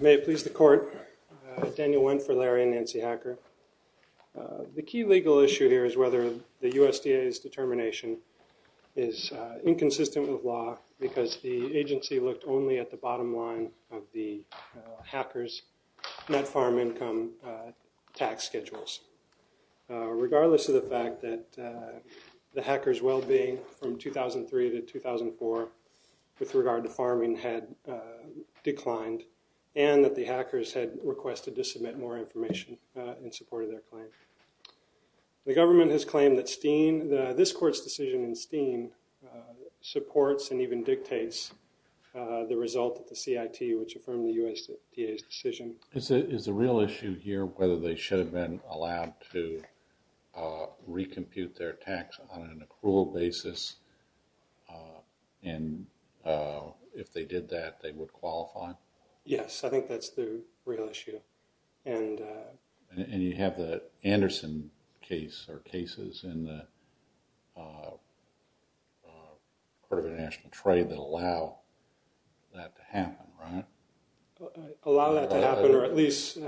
May it please the court, Daniel Wendt for Larry and Nancy Hacker. The key legal issue here is whether the USDA's determination is inconsistent with law because the agency looked only at the bottom line of the Hacker's net farm income tax schedules. Regardless of the fact that the Hacker's well-being from 2003 to 2004 with regard to farming had declined and that the Hacker's had requested to submit more information in support of their claim. The government has claimed that Steen, this court's decision in Steen supports and even dictates the result of the CIT which affirmed the USDA's decision. Is the real issue here whether they should have been allowed to recompute their tax on Yes, I think that's the real issue. And you have the Anderson case or cases in the Court of International Trade that allow that to happen, right? Allow that to happen or at least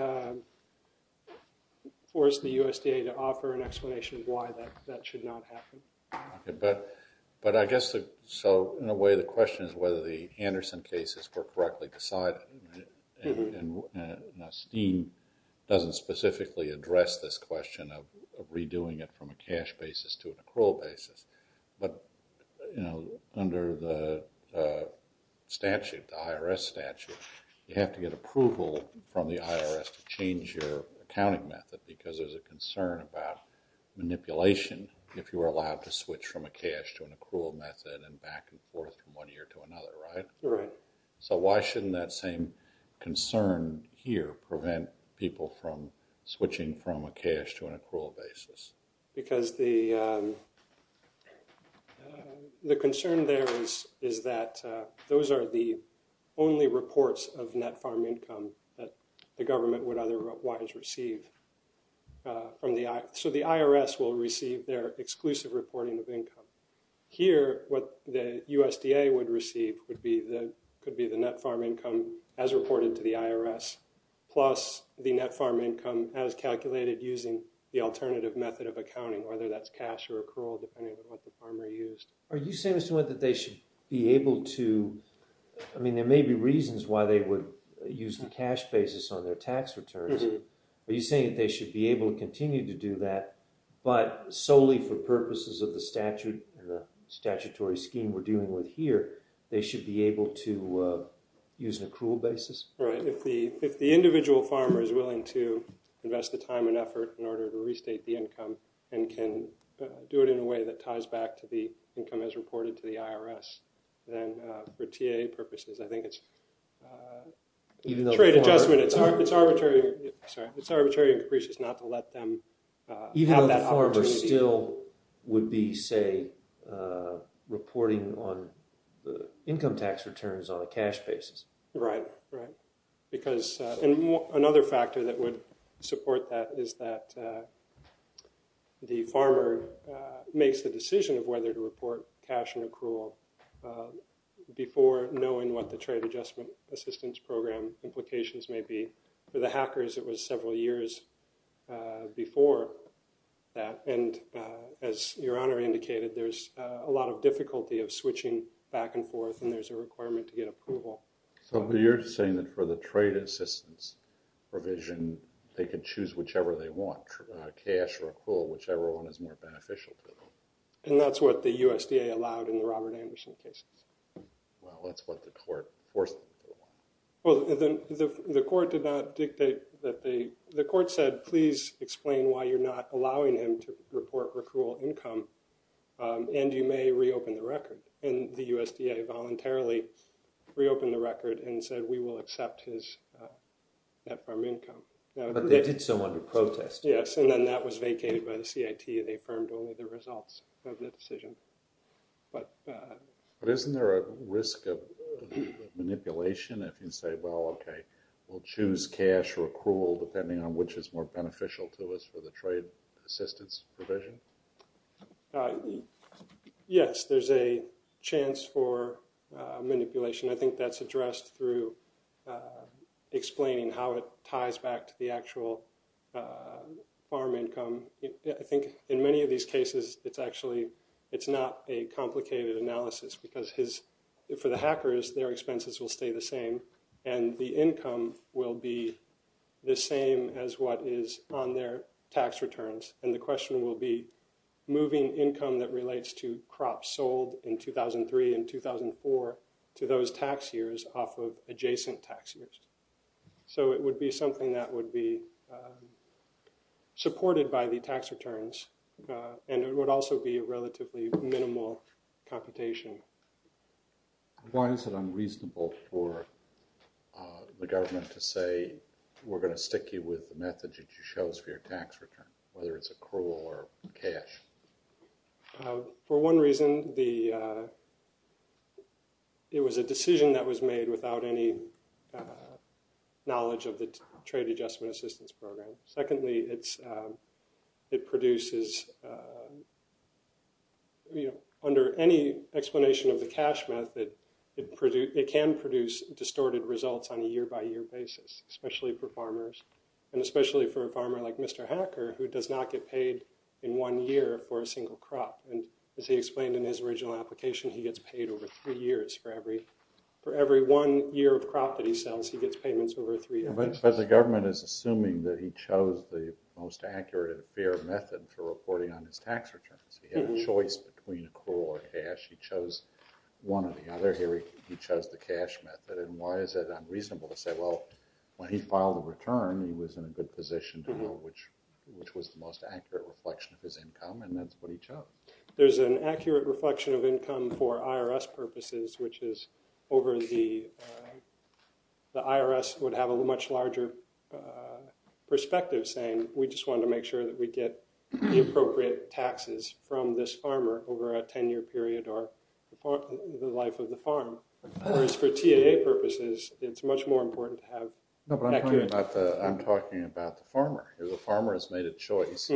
force the USDA to offer an explanation of why that should not happen. But I guess so in a way the question is whether the Anderson cases were correctly decided. Now Steen doesn't specifically address this question of redoing it from a cash basis to an accrual basis. But under the statute, the IRS statute, you have to get approval from the IRS to change your accounting method because there's a concern about manipulation if you were allowed to switch from a cash to an accrual method and back and forth from one year to another, right? Right. So why shouldn't that same concern here prevent people from switching from a cash to an accrual basis? Because the concern there is that those are the only reports of net farm income that the clients receive. So the IRS will receive their exclusive reporting of income. Here, what the USDA would receive could be the net farm income as reported to the IRS plus the net farm income as calculated using the alternative method of accounting, whether that's cash or accrual depending on what the farmer used. Are you saying Mr. Wendt that they should be able to, I mean there may be reasons why they would use the cash basis on their tax returns. Are you saying that they should be able to continue to do that but solely for purposes of the statute and the statutory scheme we're dealing with here, they should be able to use an accrual basis? Right. If the individual farmer is willing to invest the time and effort in order to restate the income and can do it in a way that ties back to the income as reported to the IRS, then for TAA purposes, I think it's trade adjustment. It's arbitrary and capricious not to let them have that opportunity. Even though the farmer still would be, say, reporting on income tax returns on a cash basis. Right. Right. Because another factor that would support that is that the farmer makes the decision of whether to report cash and accrual before knowing what the trade adjustment assistance program implications may be. For the hackers, it was several years before that. And as Your Honor indicated, there's a lot of difficulty of switching back and forth and there's a requirement to get approval. So you're saying that for the trade assistance provision, they could choose whichever they want, cash or accrual, whichever one is more beneficial to them? And that's what the USDA allowed in the Robert Anderson cases. Well, that's what the court forced them to do. Well, the court did not dictate that they... The court said, please explain why you're not allowing him to report accrual income and you may reopen the record. And the USDA voluntarily reopened the record and said, we will accept his net farm income. But they did so under protest. Yes. And then that was vacated by the CIT. They affirmed only the results of the decision. But... But isn't there a risk of manipulation if you say, well, okay, we'll choose cash or accrual depending on which is more beneficial to us for the trade assistance provision? Yes, there's a chance for manipulation. I think that's addressed through explaining how it ties back to the actual farm income. I think in many of these cases, it's actually... It's not a complicated analysis because his... For the hackers, their expenses will stay the same and the income will be the same as what is on their tax returns. And the question will be moving income that relates to crops sold in 2003 and 2004 to those tax years off of adjacent tax years. So it would be something that would be supported by the tax returns. And it would also be a relatively minimal computation. Why is it unreasonable for the government to say, we're going to stick you with the methods that you chose for your tax return, whether it's accrual or cash? For one reason, it was a decision that was made without any knowledge of the Trade Adjustment Assistance Program. Secondly, it produces... Under any explanation of the cash method, it can produce distorted results on a year by year basis, especially for farmers and especially for a farmer like Mr. Becker, who does not get paid in one year for a single crop. And as he explained in his original application, he gets paid over three years for every one year of crop that he sells. He gets payments over three years. But the government is assuming that he chose the most accurate and fair method for reporting on his tax returns. He had a choice between accrual or cash. He chose one or the other. Here, he chose the cash method. And why is it unreasonable to say, well, when he filed the return, he was in a good position to know which was the most accurate reflection of his income. And that's what he chose. There's an accurate reflection of income for IRS purposes, which is over the... The IRS would have a much larger perspective, saying, we just wanted to make sure that we get the appropriate taxes from this farmer over a 10-year period or the life of the farm. Whereas for TAA purposes, it's much more important to have accurate... I'm talking about the farmer. The farmer has made a choice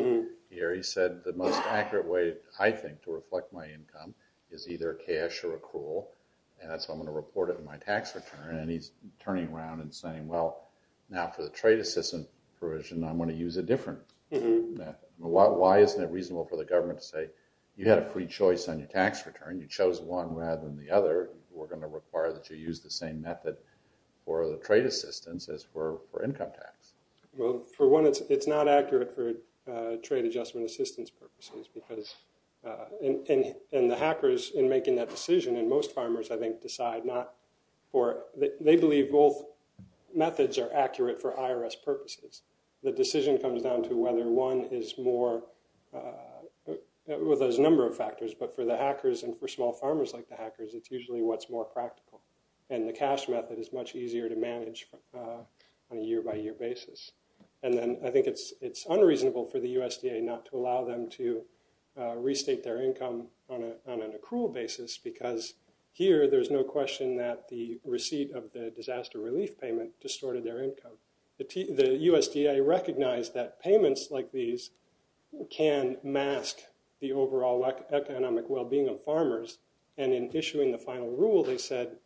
here. He said, the most accurate way, I think, to reflect my income is either cash or accrual. And that's why I'm going to report it in my tax return. And he's turning around and saying, well, now for the trade assistance provision, I'm going to use a different method. Why isn't it reasonable for the government to say, you had a free choice on your tax return. You chose one rather than the other. We're going to require that you use the same method for the trade assistance as for income tax. Well, for one, it's not accurate for trade adjustment assistance purposes because... And the hackers, in making that decision, and most farmers, I think, decide not for... They believe both methods are accurate for IRS purposes. The decision comes down to whether one is more... Well, there's a number of factors. But for the hackers and for small farmers like the hackers, it's usually what's more practical. And the cash method is much easier to manage on a year-by-year basis. And then I think it's unreasonable for the USDA not to allow them to restate their income on an accrual basis because here, there's no question that the receipt of the disaster relief payment distorted their income. The USDA recognized that payments like these can mask the overall economic well-being of farmers. And in issuing the final rule, they said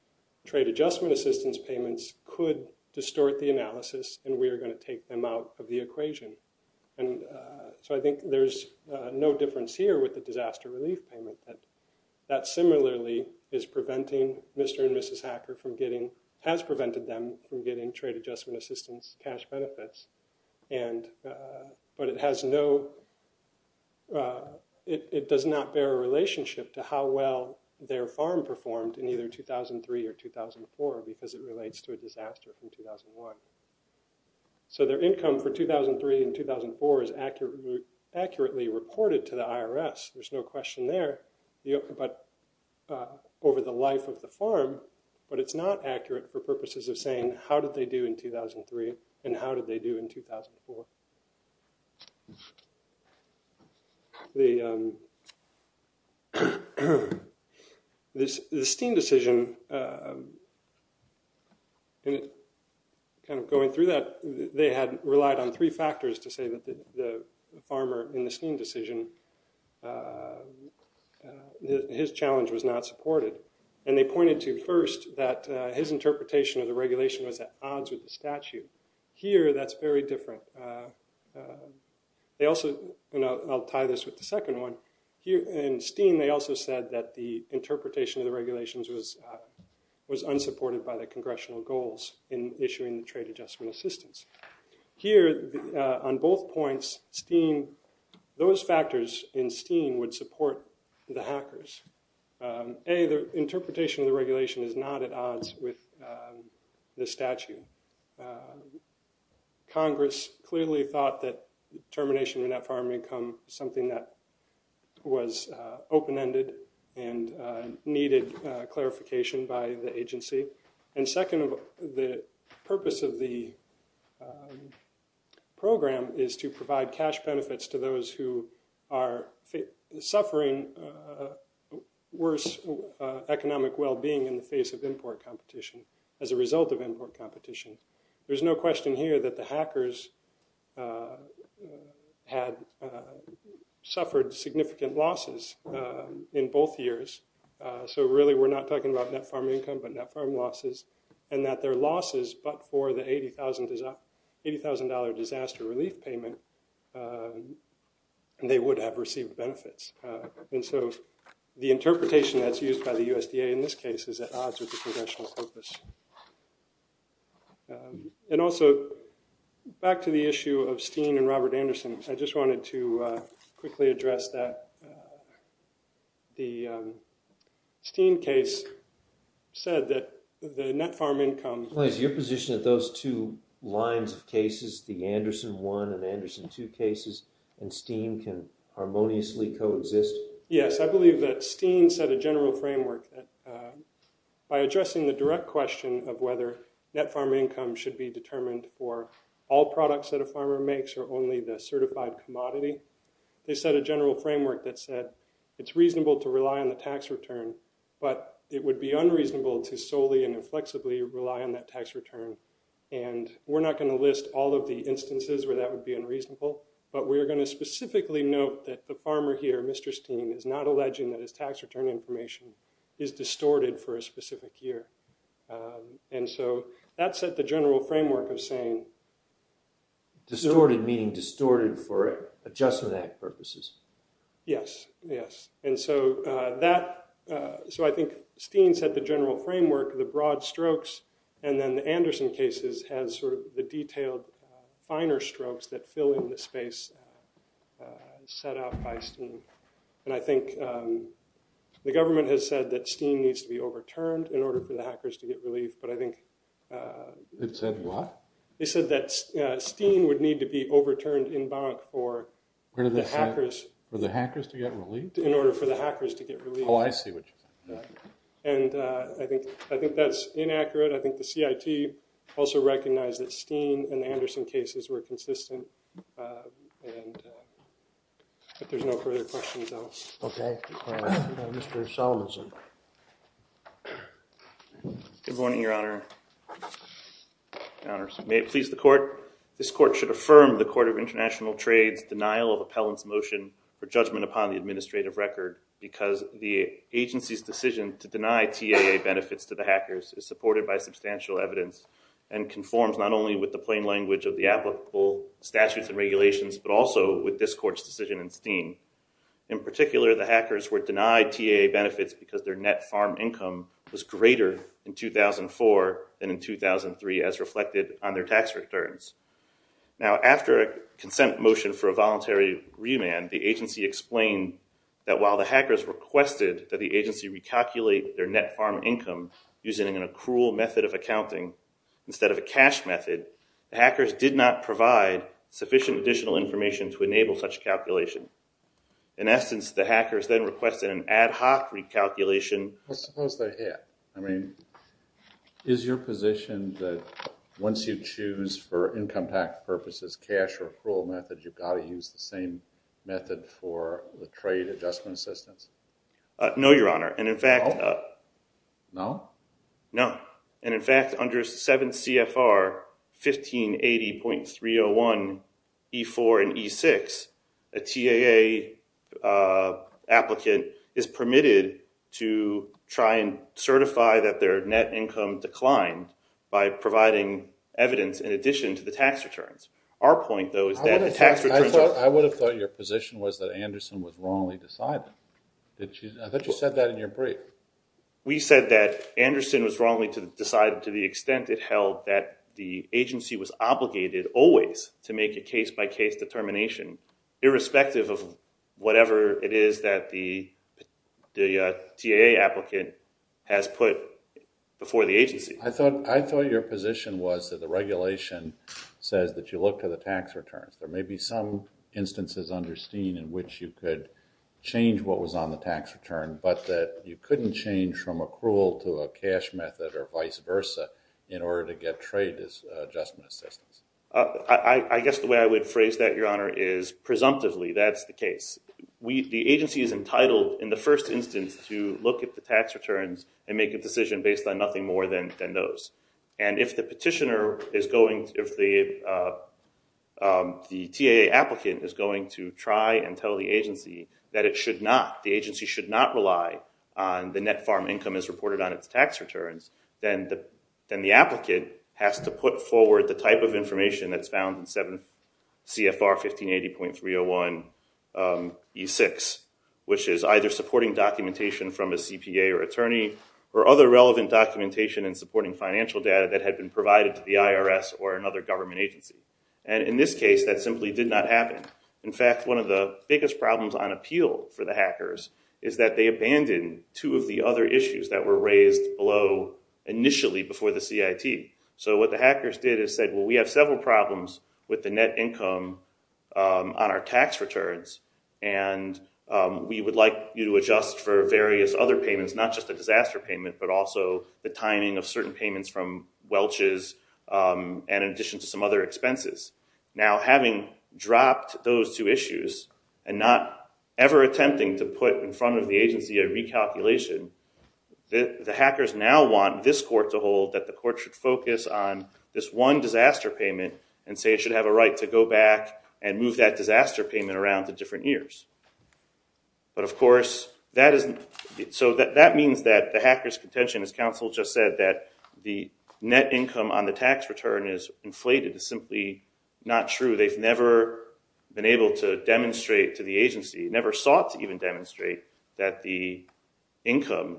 trade adjustment assistance payments could distort the analysis, and we are going to take them out of the equation. And so I think there's no difference here with the disaster relief payment. That similarly is preventing Mr. and Mrs. Hacker from getting... But it has no... It does not bear a relationship to how well their farm performed in either 2003 or 2004 because it relates to a disaster in 2001. So their income for 2003 and 2004 is accurately reported to the IRS. There's no question there. But over the life of the farm, but it's not accurate for purposes of saying how did they do in 2003 and how did they do in 2004. The Steen decision, kind of going through that, they had relied on three factors to say that the farmer in the Steen decision, his challenge was not supported. And they pointed to first that his interpretation of the regulation was at odds with the statute. Here, that's very different. They also... And I'll tie this with the second one. In Steen, they also said that the interpretation of the regulations was unsupported by the congressional goals in issuing the trade adjustment assistance. Here, on both points, Steen... Those factors in Steen would support the hackers. A, the interpretation of the regulation is not at odds with the statute. Congress clearly thought that termination of net farm income was something that was open-ended and needed clarification by the agency. And second, the purpose of the program is to provide cash benefits to those who are suffering worse economic well-being in the face of import competition, as a result of import competition. There's no question here that the hackers had suffered significant losses in both years. So really, we're not talking about net farm income but net farm losses. And that their losses, but for the $80,000 disaster relief payment, they would have received benefits. And so the interpretation that's used by the USDA in this case is at odds with the congressional purpose. And also, back to the issue of Steen and Robert Anderson, I just wanted to quickly address that the Steen case said that the net farm income... The Anderson 1 and Anderson 2 cases and Steen can harmoniously coexist. Yes, I believe that Steen set a general framework that by addressing the direct question of whether net farm income should be determined for all products that a farmer makes or only the certified commodity, they set a general framework that said it's reasonable to rely on the tax return, but it would be unreasonable to solely and inflexibly rely on that tax return. And we're not going to list all of the instances where that would be unreasonable, but we're going to specifically note that the farmer here, Mr. Steen, is not alleging that his tax return information is distorted for a specific year. And so that set the general framework of saying... Distorted meaning distorted for Adjustment Act purposes. Yes, yes. And so that... So I think Steen set the general framework, the broad strokes, and then the Anderson cases has sort of the detailed finer strokes that fill in the space set out by Steen. And I think the government has said that Steen needs to be overturned in order for the hackers to get relief, but I think... It said what? It said that Steen would need to be overturned in bank for the hackers... For the hackers to get relief? In order for the hackers to get relief. Oh, I see what you're saying. And I think that's inaccurate. I think the CIT also recognized that Steen and the Anderson cases were consistent. But there's no further questions, I'll... Okay. Mr. Solomonson. Good morning, Your Honor. May it please the Court. I'm calling upon the administrative record because the agency's decision to deny TAA benefits to the hackers is supported by substantial evidence and conforms not only with the plain language of the applicable statutes and regulations, but also with this Court's decision in Steen. In particular, the hackers were denied TAA benefits because their net farm income was greater in 2004 than in 2003 as reflected on their tax returns. Now, after a consent motion for a voluntary remand, the agency explained that while the hackers requested that the agency recalculate their net farm income using an accrual method of accounting instead of a cash method, the hackers did not provide sufficient additional information to enable such calculation. In essence, the hackers then requested an ad hoc recalculation... Well, suppose they're here. I mean, is your position that once you choose for income tax purposes cash or accrual method, you've got to use the same method for the trade adjustment assistance? No, Your Honor. And in fact... No? No. And in fact, under 7 CFR 1580.301E4 and E6, a TAA applicant is permitted to try and certify that their net income declined by providing evidence in addition to the tax returns. Our point, though, is that the tax returns... I would have thought your position was that Anderson was wrongly decided. I thought you said that in your brief. We said that Anderson was wrongly decided to the extent it held that the agency was obligated always to make a case-by-case determination irrespective of whatever it is that the TAA applicant has put before the agency. I thought your position was that the regulation says that you look to the tax returns. There may be some instances under Steen in which you could change what was on the tax return, but that you couldn't change from accrual to a cash method or vice versa in order to get trade adjustment assistance. I guess the way I would phrase that, Your Honor, is presumptively that's the case. The agency is entitled in the first instance to look at the tax returns and make a decision based on nothing more than those. And if the petitioner is going... If the TAA applicant is going to try and tell the agency that it should not... Should not rely on the net farm income as reported on its tax returns, then the applicant has to put forward the type of information that's found in CFR 1580.301E6, which is either supporting documentation from a CPA or attorney or other relevant documentation and supporting financial data that had been provided to the IRS or another government agency. And in this case, that simply did not happen. In fact, one of the biggest problems on appeal for the hackers is that they abandoned two of the other issues that were raised below initially before the CIT. So what the hackers did is said, well, we have several problems with the net income on our tax returns, and we would like you to adjust for various other payments, not just a disaster payment, but also the timing of certain payments from Welch's and in addition to some other expenses. Now, having dropped those two issues and not ever attempting to put in front of the agency a recalculation, the hackers now want this court to hold that the court should focus on this one disaster payment and say it should have a right to go back and move that disaster payment around to different years. But of course, that is... So that means that the hacker's contention, as counsel just said, that the net income on the tax return is inflated is simply not true. They've never been able to demonstrate to the agency, never sought to even demonstrate that the income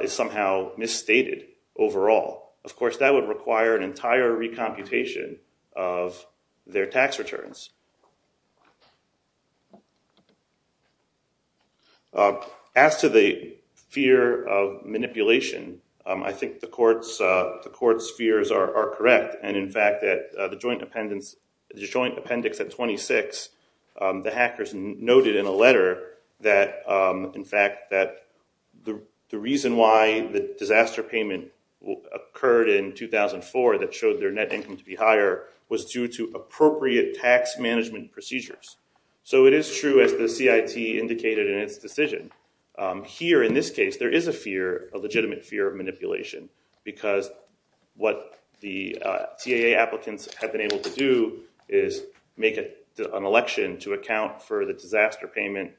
is somehow misstated overall. Of course, that would require an entire recomputation of their tax returns. As to the fear of manipulation, I think the court's fears are correct. And in fact, the joint appendix at 26, the hackers noted in a letter that, in fact, that the reason why the disaster payment occurred in 2004 that showed their net income to be higher was due to appropriate tax management procedures. So it is true, as the CIT indicated in its decision. Here, in this case, there is a fear, a legitimate fear of manipulation, because what the TAA applicants have been able to do is make an election to account for the disaster payment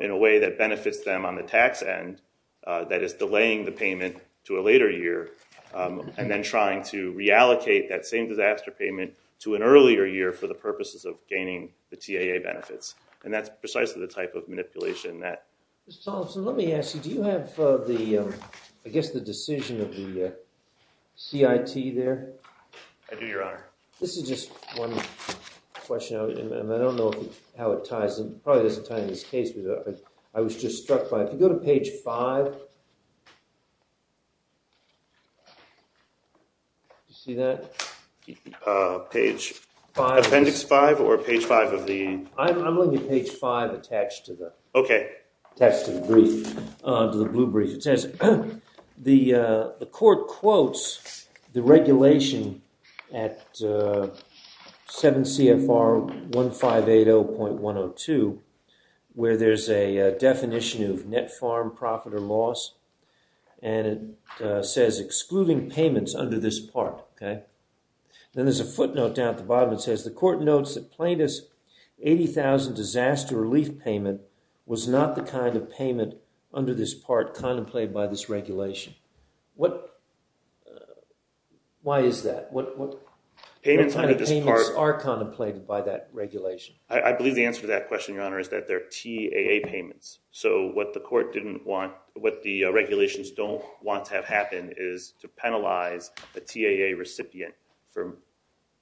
in a way that benefits them on the tax end that is delaying the payment to a later year and then trying to reallocate that same disaster payment to an earlier year for the purposes of gaining the TAA benefits. And that's precisely the type of manipulation that. So let me ask you, do you have the, I guess, the decision of the CIT there? I do, Your Honor. This is just one question, and I don't know how it ties in. Probably doesn't tie in this case, but I was just struck by it. If you go to page 5, do you see that? Page 5? Appendix 5 or page 5 of the? I'm looking at page 5 attached to the brief, to the blue brief. It says, the court quotes the regulation at 7 CFR 1580.102, where there's a definition of net farm profit or loss, and it says, excluding payments under this part, okay? Then there's a footnote down at the bottom that says, the court notes that plaintiff's 80,000 disaster relief payment was not the kind of payment under this part contemplated by this regulation. Why is that? What kind of payments are contemplated by that regulation? I believe the answer to that question, Your Honor, is that they're TAA payments. So what the court didn't want, what the regulations don't want to have happen is to penalize a TAA recipient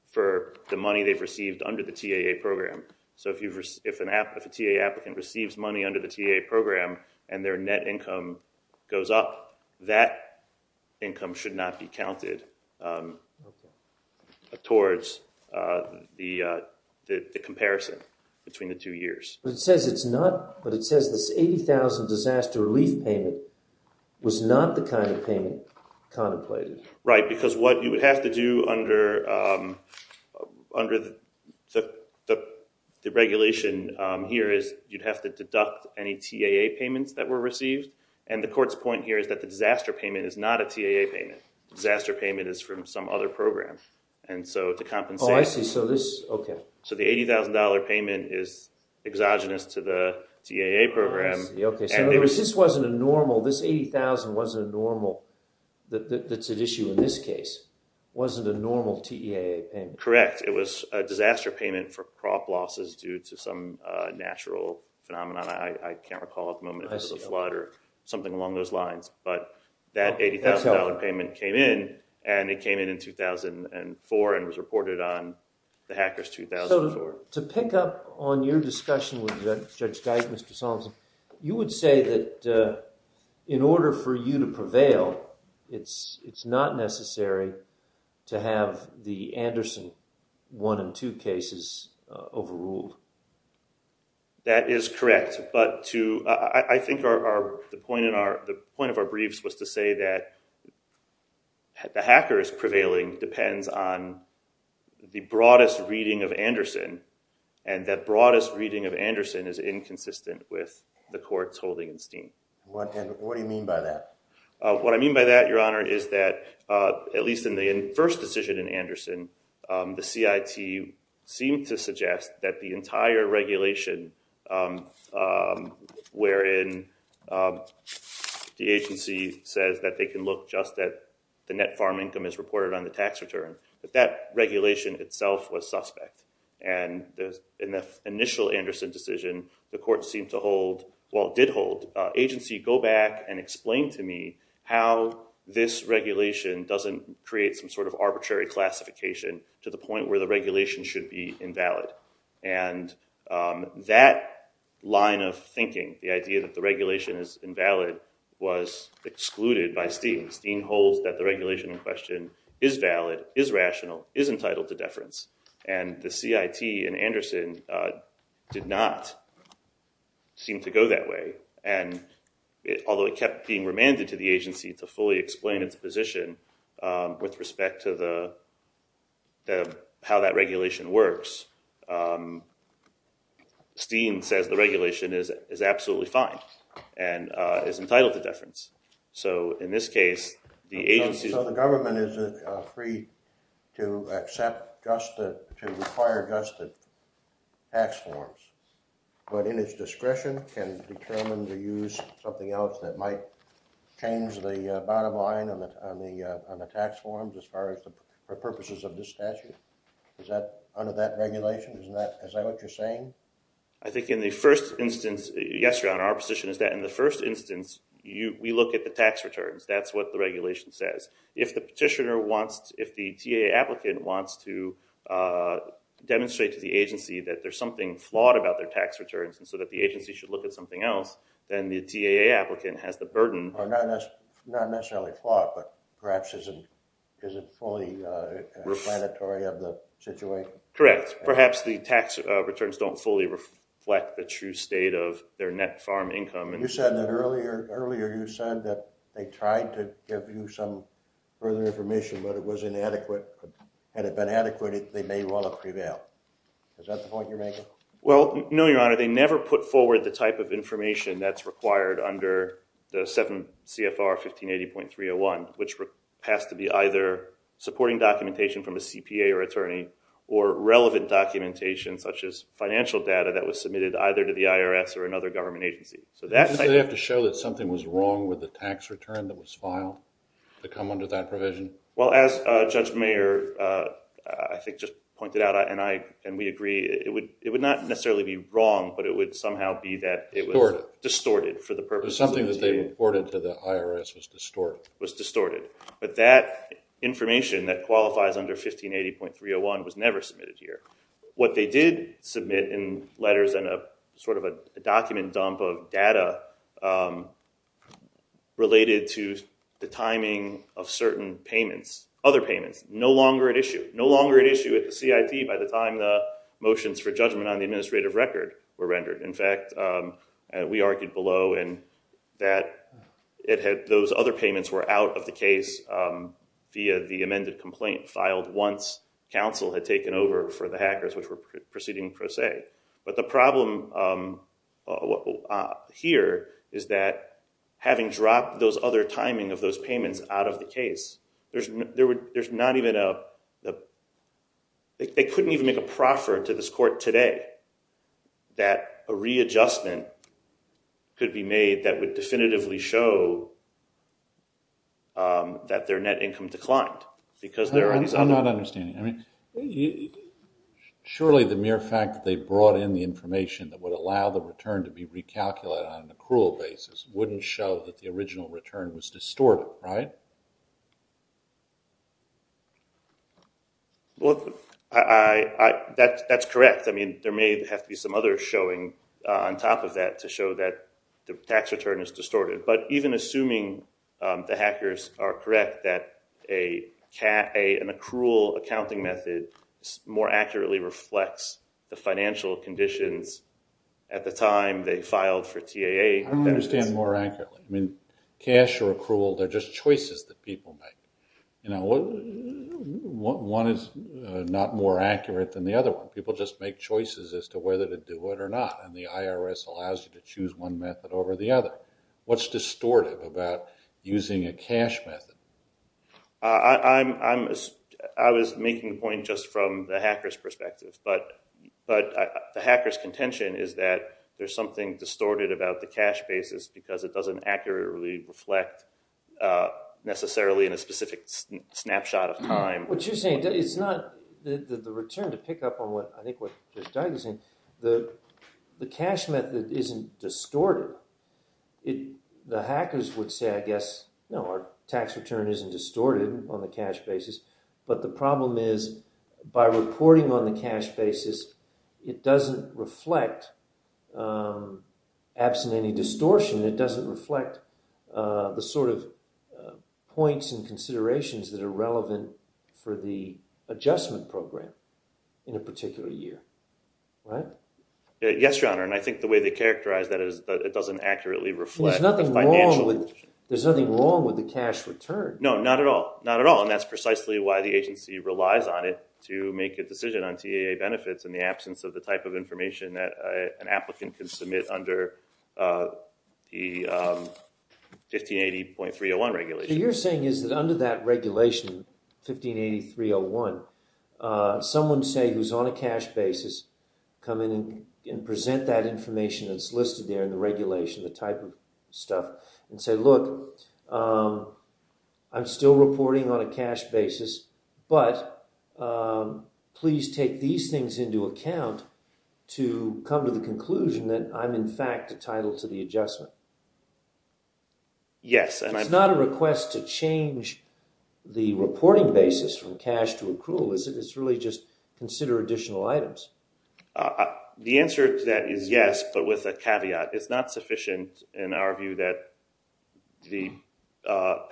for the money they've received under the TAA program. So if a TAA applicant receives money under the TAA program and their net income goes up, that income should not be counted towards the comparison between the two years. But it says this 80,000 disaster relief payment was not the kind of payment contemplated. Right, because what you would have to do under the regulation here is you'd have to deduct any TAA payments that were received, and the court's point here is that the disaster payment is not a TAA payment. The disaster payment is from some other program, and so to compensate... Oh, I see. So this, okay. So the $80,000 payment is exogenous to the TAA program. I see, okay. So this wasn't a normal, this 80,000 wasn't a normal, that's at issue in this case, wasn't a normal TAA payment. Correct. It was a disaster payment for crop losses due to some natural phenomenon. I can't recall at the moment if it was a flood or something along those lines. But that $80,000 payment came in, and it came in in 2004 and was reported on the hackers 2004. To pick up on your discussion with Judge Geis, Mr. Solomson, you would say that in order for you to prevail, it's not necessary to have the Anderson one and two cases overruled. That is correct, but I think the point of our briefs was to say that the hackers prevailing depends on the broadest reading of Anderson, and that broadest reading of Anderson is inconsistent with the court's holding in steam. What do you mean by that? What I mean by that, Your Honor, is that at least in the first decision in Anderson, the CIT seemed to suggest that the entire regulation wherein the agency says that they can look just at the net farm income as reported on the tax return, that that regulation itself was suspect. In the initial Anderson decision, the court seemed to hold, well, it did hold, agency go back and explain to me how this regulation doesn't create some sort of arbitrary classification to the point where the regulation should be invalid. And that line of thinking, the idea that the regulation is invalid, was excluded by steam. Steam holds that the regulation in question is valid, is rational, is entitled to deference. And the CIT in Anderson did not seem to go that way. And although it kept being remanded to the agency to fully explain its position with respect to the, how that regulation works, steam says the regulation is absolutely fine and is entitled to deference. So in this case, the agency... So the government is free to accept just the, to require just the tax forms, but in its discretion can determine to use something else that might change the bottom line on the tax forms as far as the purposes of this statute. Is that, under that regulation, is that what you're saying? I think in the first instance, yes, your honor, our position is that in the first instance, we look at the tax returns, that's what the regulation says. If the petitioner wants, if the TAA applicant wants to demonstrate to the agency that there's something flawed about their tax returns and so that the agency should look at something else, then the TAA applicant has the burden... So not necessarily flawed, but perhaps isn't fully explanatory of the situation. Correct. Perhaps the tax returns don't fully reflect the true state of their net farm income. You said that earlier, earlier you said that they tried to give you some further information, but it was inadequate. Had it been adequate, they may well have prevailed. Is that the point you're making? Well, no, your honor. They never put forward the type of information that's required under the 7 CFR 1580.301, which has to be either supporting documentation from a CPA or attorney or relevant documentation such as financial data that was submitted either to the IRS or another government agency. So that's... Did they have to show that something was wrong with the tax return that was filed to come under that provision? Well, as Judge Mayer, I think, just pointed out and we agree, it would not necessarily be wrong, but it would somehow be that it was distorted for the purpose of... Something that they reported to the IRS was distorted. Was distorted. But that information that qualifies under 1580.301 was never submitted here. What they did submit in letters and sort of a document dump of data related to the timing of certain payments, other payments, no longer at issue. No longer at issue at the CIT by the time the motions for judgment on the administrative record were rendered. In fact, we argued below in that those other payments were out of the case via the amended complaint filed once counsel had taken over for the hackers which were proceeding per se. But the problem here is that having dropped those other timing of those payments out of the case, there's not even a... They couldn't even make a proffer to this court today that a readjustment could be made that would definitively show that their net income declined. I'm not understanding. Surely the mere fact that they brought in the information that would allow the return to be recalculated on an accrual basis wouldn't show that the original return was distorted, right? Well, that's correct. I mean, there may have to be some other showing on top of that to show that the tax return is distorted. But even assuming the hackers are correct that an accrual accounting method more accurately reflects the financial conditions at the time they filed for TAA... I don't understand more accurately. I mean, cash or accrual, they're just choices that people make. One is not more accurate than the other one. People just make choices as to whether to do it or not. And the IRS allows you to choose one method over the other. What's distortive about using a cash method? I was making a point just from the hacker's perspective. But the hacker's contention is that there's something distorted about the cash basis because it doesn't accurately reflect necessarily in a specific snapshot of time. What you're saying, it's not... The return to pick up on what I think what Doug was saying, the cash method isn't distorted. The hackers would say, I guess, no, our tax return isn't distorted on the cash basis. But the problem is by reporting on the cash basis, it doesn't reflect, absent any distortion, it doesn't reflect the sort of points and considerations that are relevant for the adjustment program in a particular year. Right? Yes, Your Honor. And I think the way they characterize that is it doesn't accurately reflect financial... There's nothing wrong with the cash return. No, not at all. Not at all. And that's precisely why the agency relies on it to make a decision on TAA benefits in the absence of the type of information that an applicant can submit under the 1580.301 regulation. What you're saying is that under that regulation, 1580.301, someone, say, who's on a cash basis, come in and present that information that's listed there in the regulation, the type of stuff, and say, look, I'm still reporting on a cash basis, but please take these things into account to come to the conclusion that I'm, in fact, entitled to the adjustment. Yes. It's not a request to change the reporting basis from cash to accrual. It's really just consider additional items. The answer to that is yes, but with a caveat. It's not sufficient in our view that the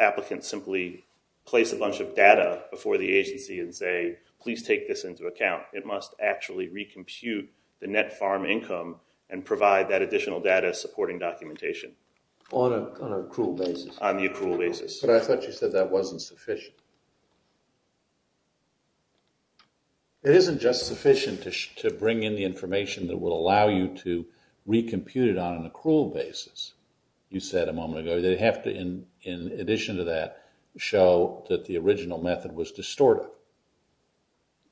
applicant simply place a bunch of data before the agency and say, please take this into account. It must actually recompute the net farm income and provide that additional data supporting documentation. On an accrual basis. On the accrual basis. But I thought you said that wasn't sufficient. It isn't just sufficient to bring in the information that would allow you to recompute it on an accrual basis. You said a moment ago, they have to, in addition to that, show that the original method was distorted.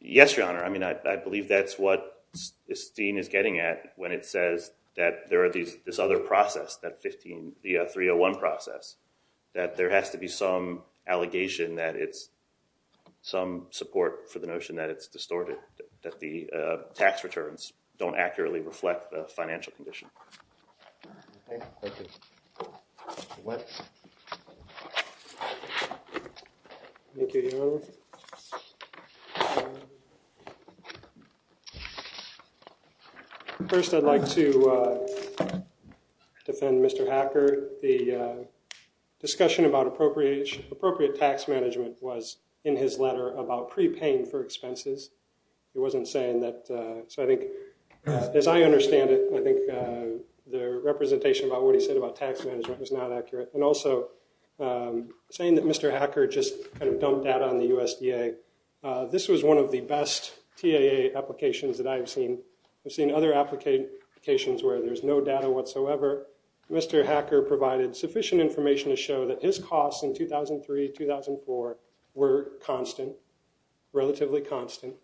Yes, Your Honor. I mean, I believe that's what this scene is getting at when it says that there are these other process, that 15, the 301 process, that there has to be some allegation that it's some support for the notion that it's distorted, that the tax returns don't accurately reflect the financial condition. Thank you. Thank you, Your Honor. First, I'd like to defend Mr. Hacker. The discussion about appropriate tax management was in his letter about prepaying for expenses. He wasn't saying that. So I think, as I understand it, I think the representation about what he said about tax management was not accurate. And also, saying that Mr. Hacker just kind of dumped data on the USDA. This was one of the best TAA applications that I've seen. I've seen other applications where there's no data whatsoever. However, Mr. Hacker provided sufficient information to show that his costs in 2003-2004 were constant, relatively constant,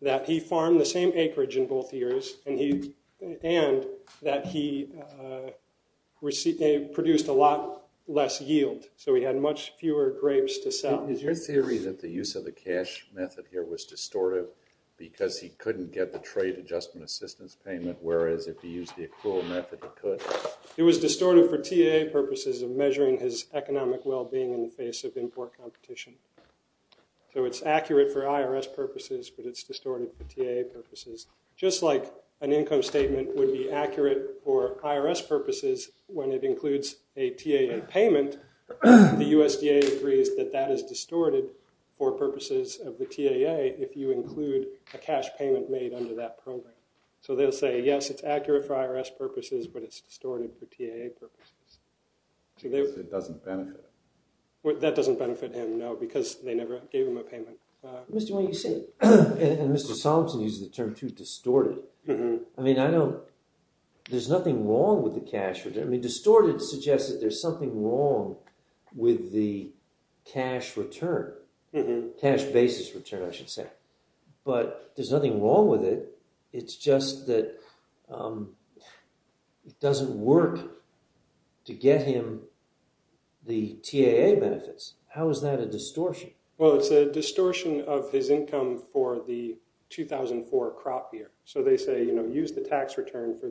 that he farmed the same acreage in both years, and that he produced a lot less yield. So he had much fewer grapes to sell. Is your theory that the use of the cash method here was distorted because he couldn't get the trade adjustment assistance payment, whereas if he used the accrual method, he could? It was distorted for TAA purposes of measuring his economic well-being in the face of import competition. So it's accurate for IRS purposes, but it's distorted for TAA purposes. Just like an income statement would be accurate for IRS purposes when it includes a TAA payment, the USDA agrees that that is distorted for purposes of the TAA if you include a cash payment made under that program. So they'll say, yes, it's accurate for IRS purposes, but it's distorted for TAA purposes. So it doesn't benefit him? That doesn't benefit him, no, because they never gave him a payment. Mr. Wayne, you say it, and Mr. Solomson uses the term, too, distorted. I mean, I know there's nothing wrong with the cash. I mean, distorted suggests that there's something wrong with the cash return, cash basis return, I should say. But there's nothing wrong with it. It's just that it doesn't work to get him the TAA benefits. How is that a distortion? Well, it's a distortion of his income for the 2004 crop year. So they say, you know, use the tax return for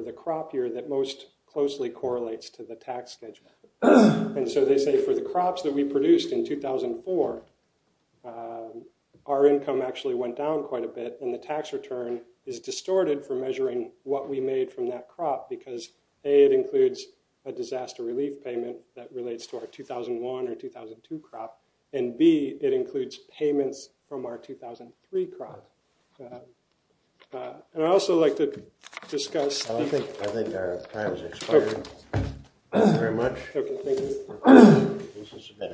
the crop year that most closely correlates to the tax schedule. And so they say for the crops that we produced in 2004, our income actually went down quite a bit, and the tax return is distorted for measuring what we made from that crop, because A, it includes a disaster relief payment that relates to our 2001 or 2002 crop, and B, it includes payments from our 2003 crop. And I'd also like to discuss. I think our time has expired. Thank you very much. Thank you.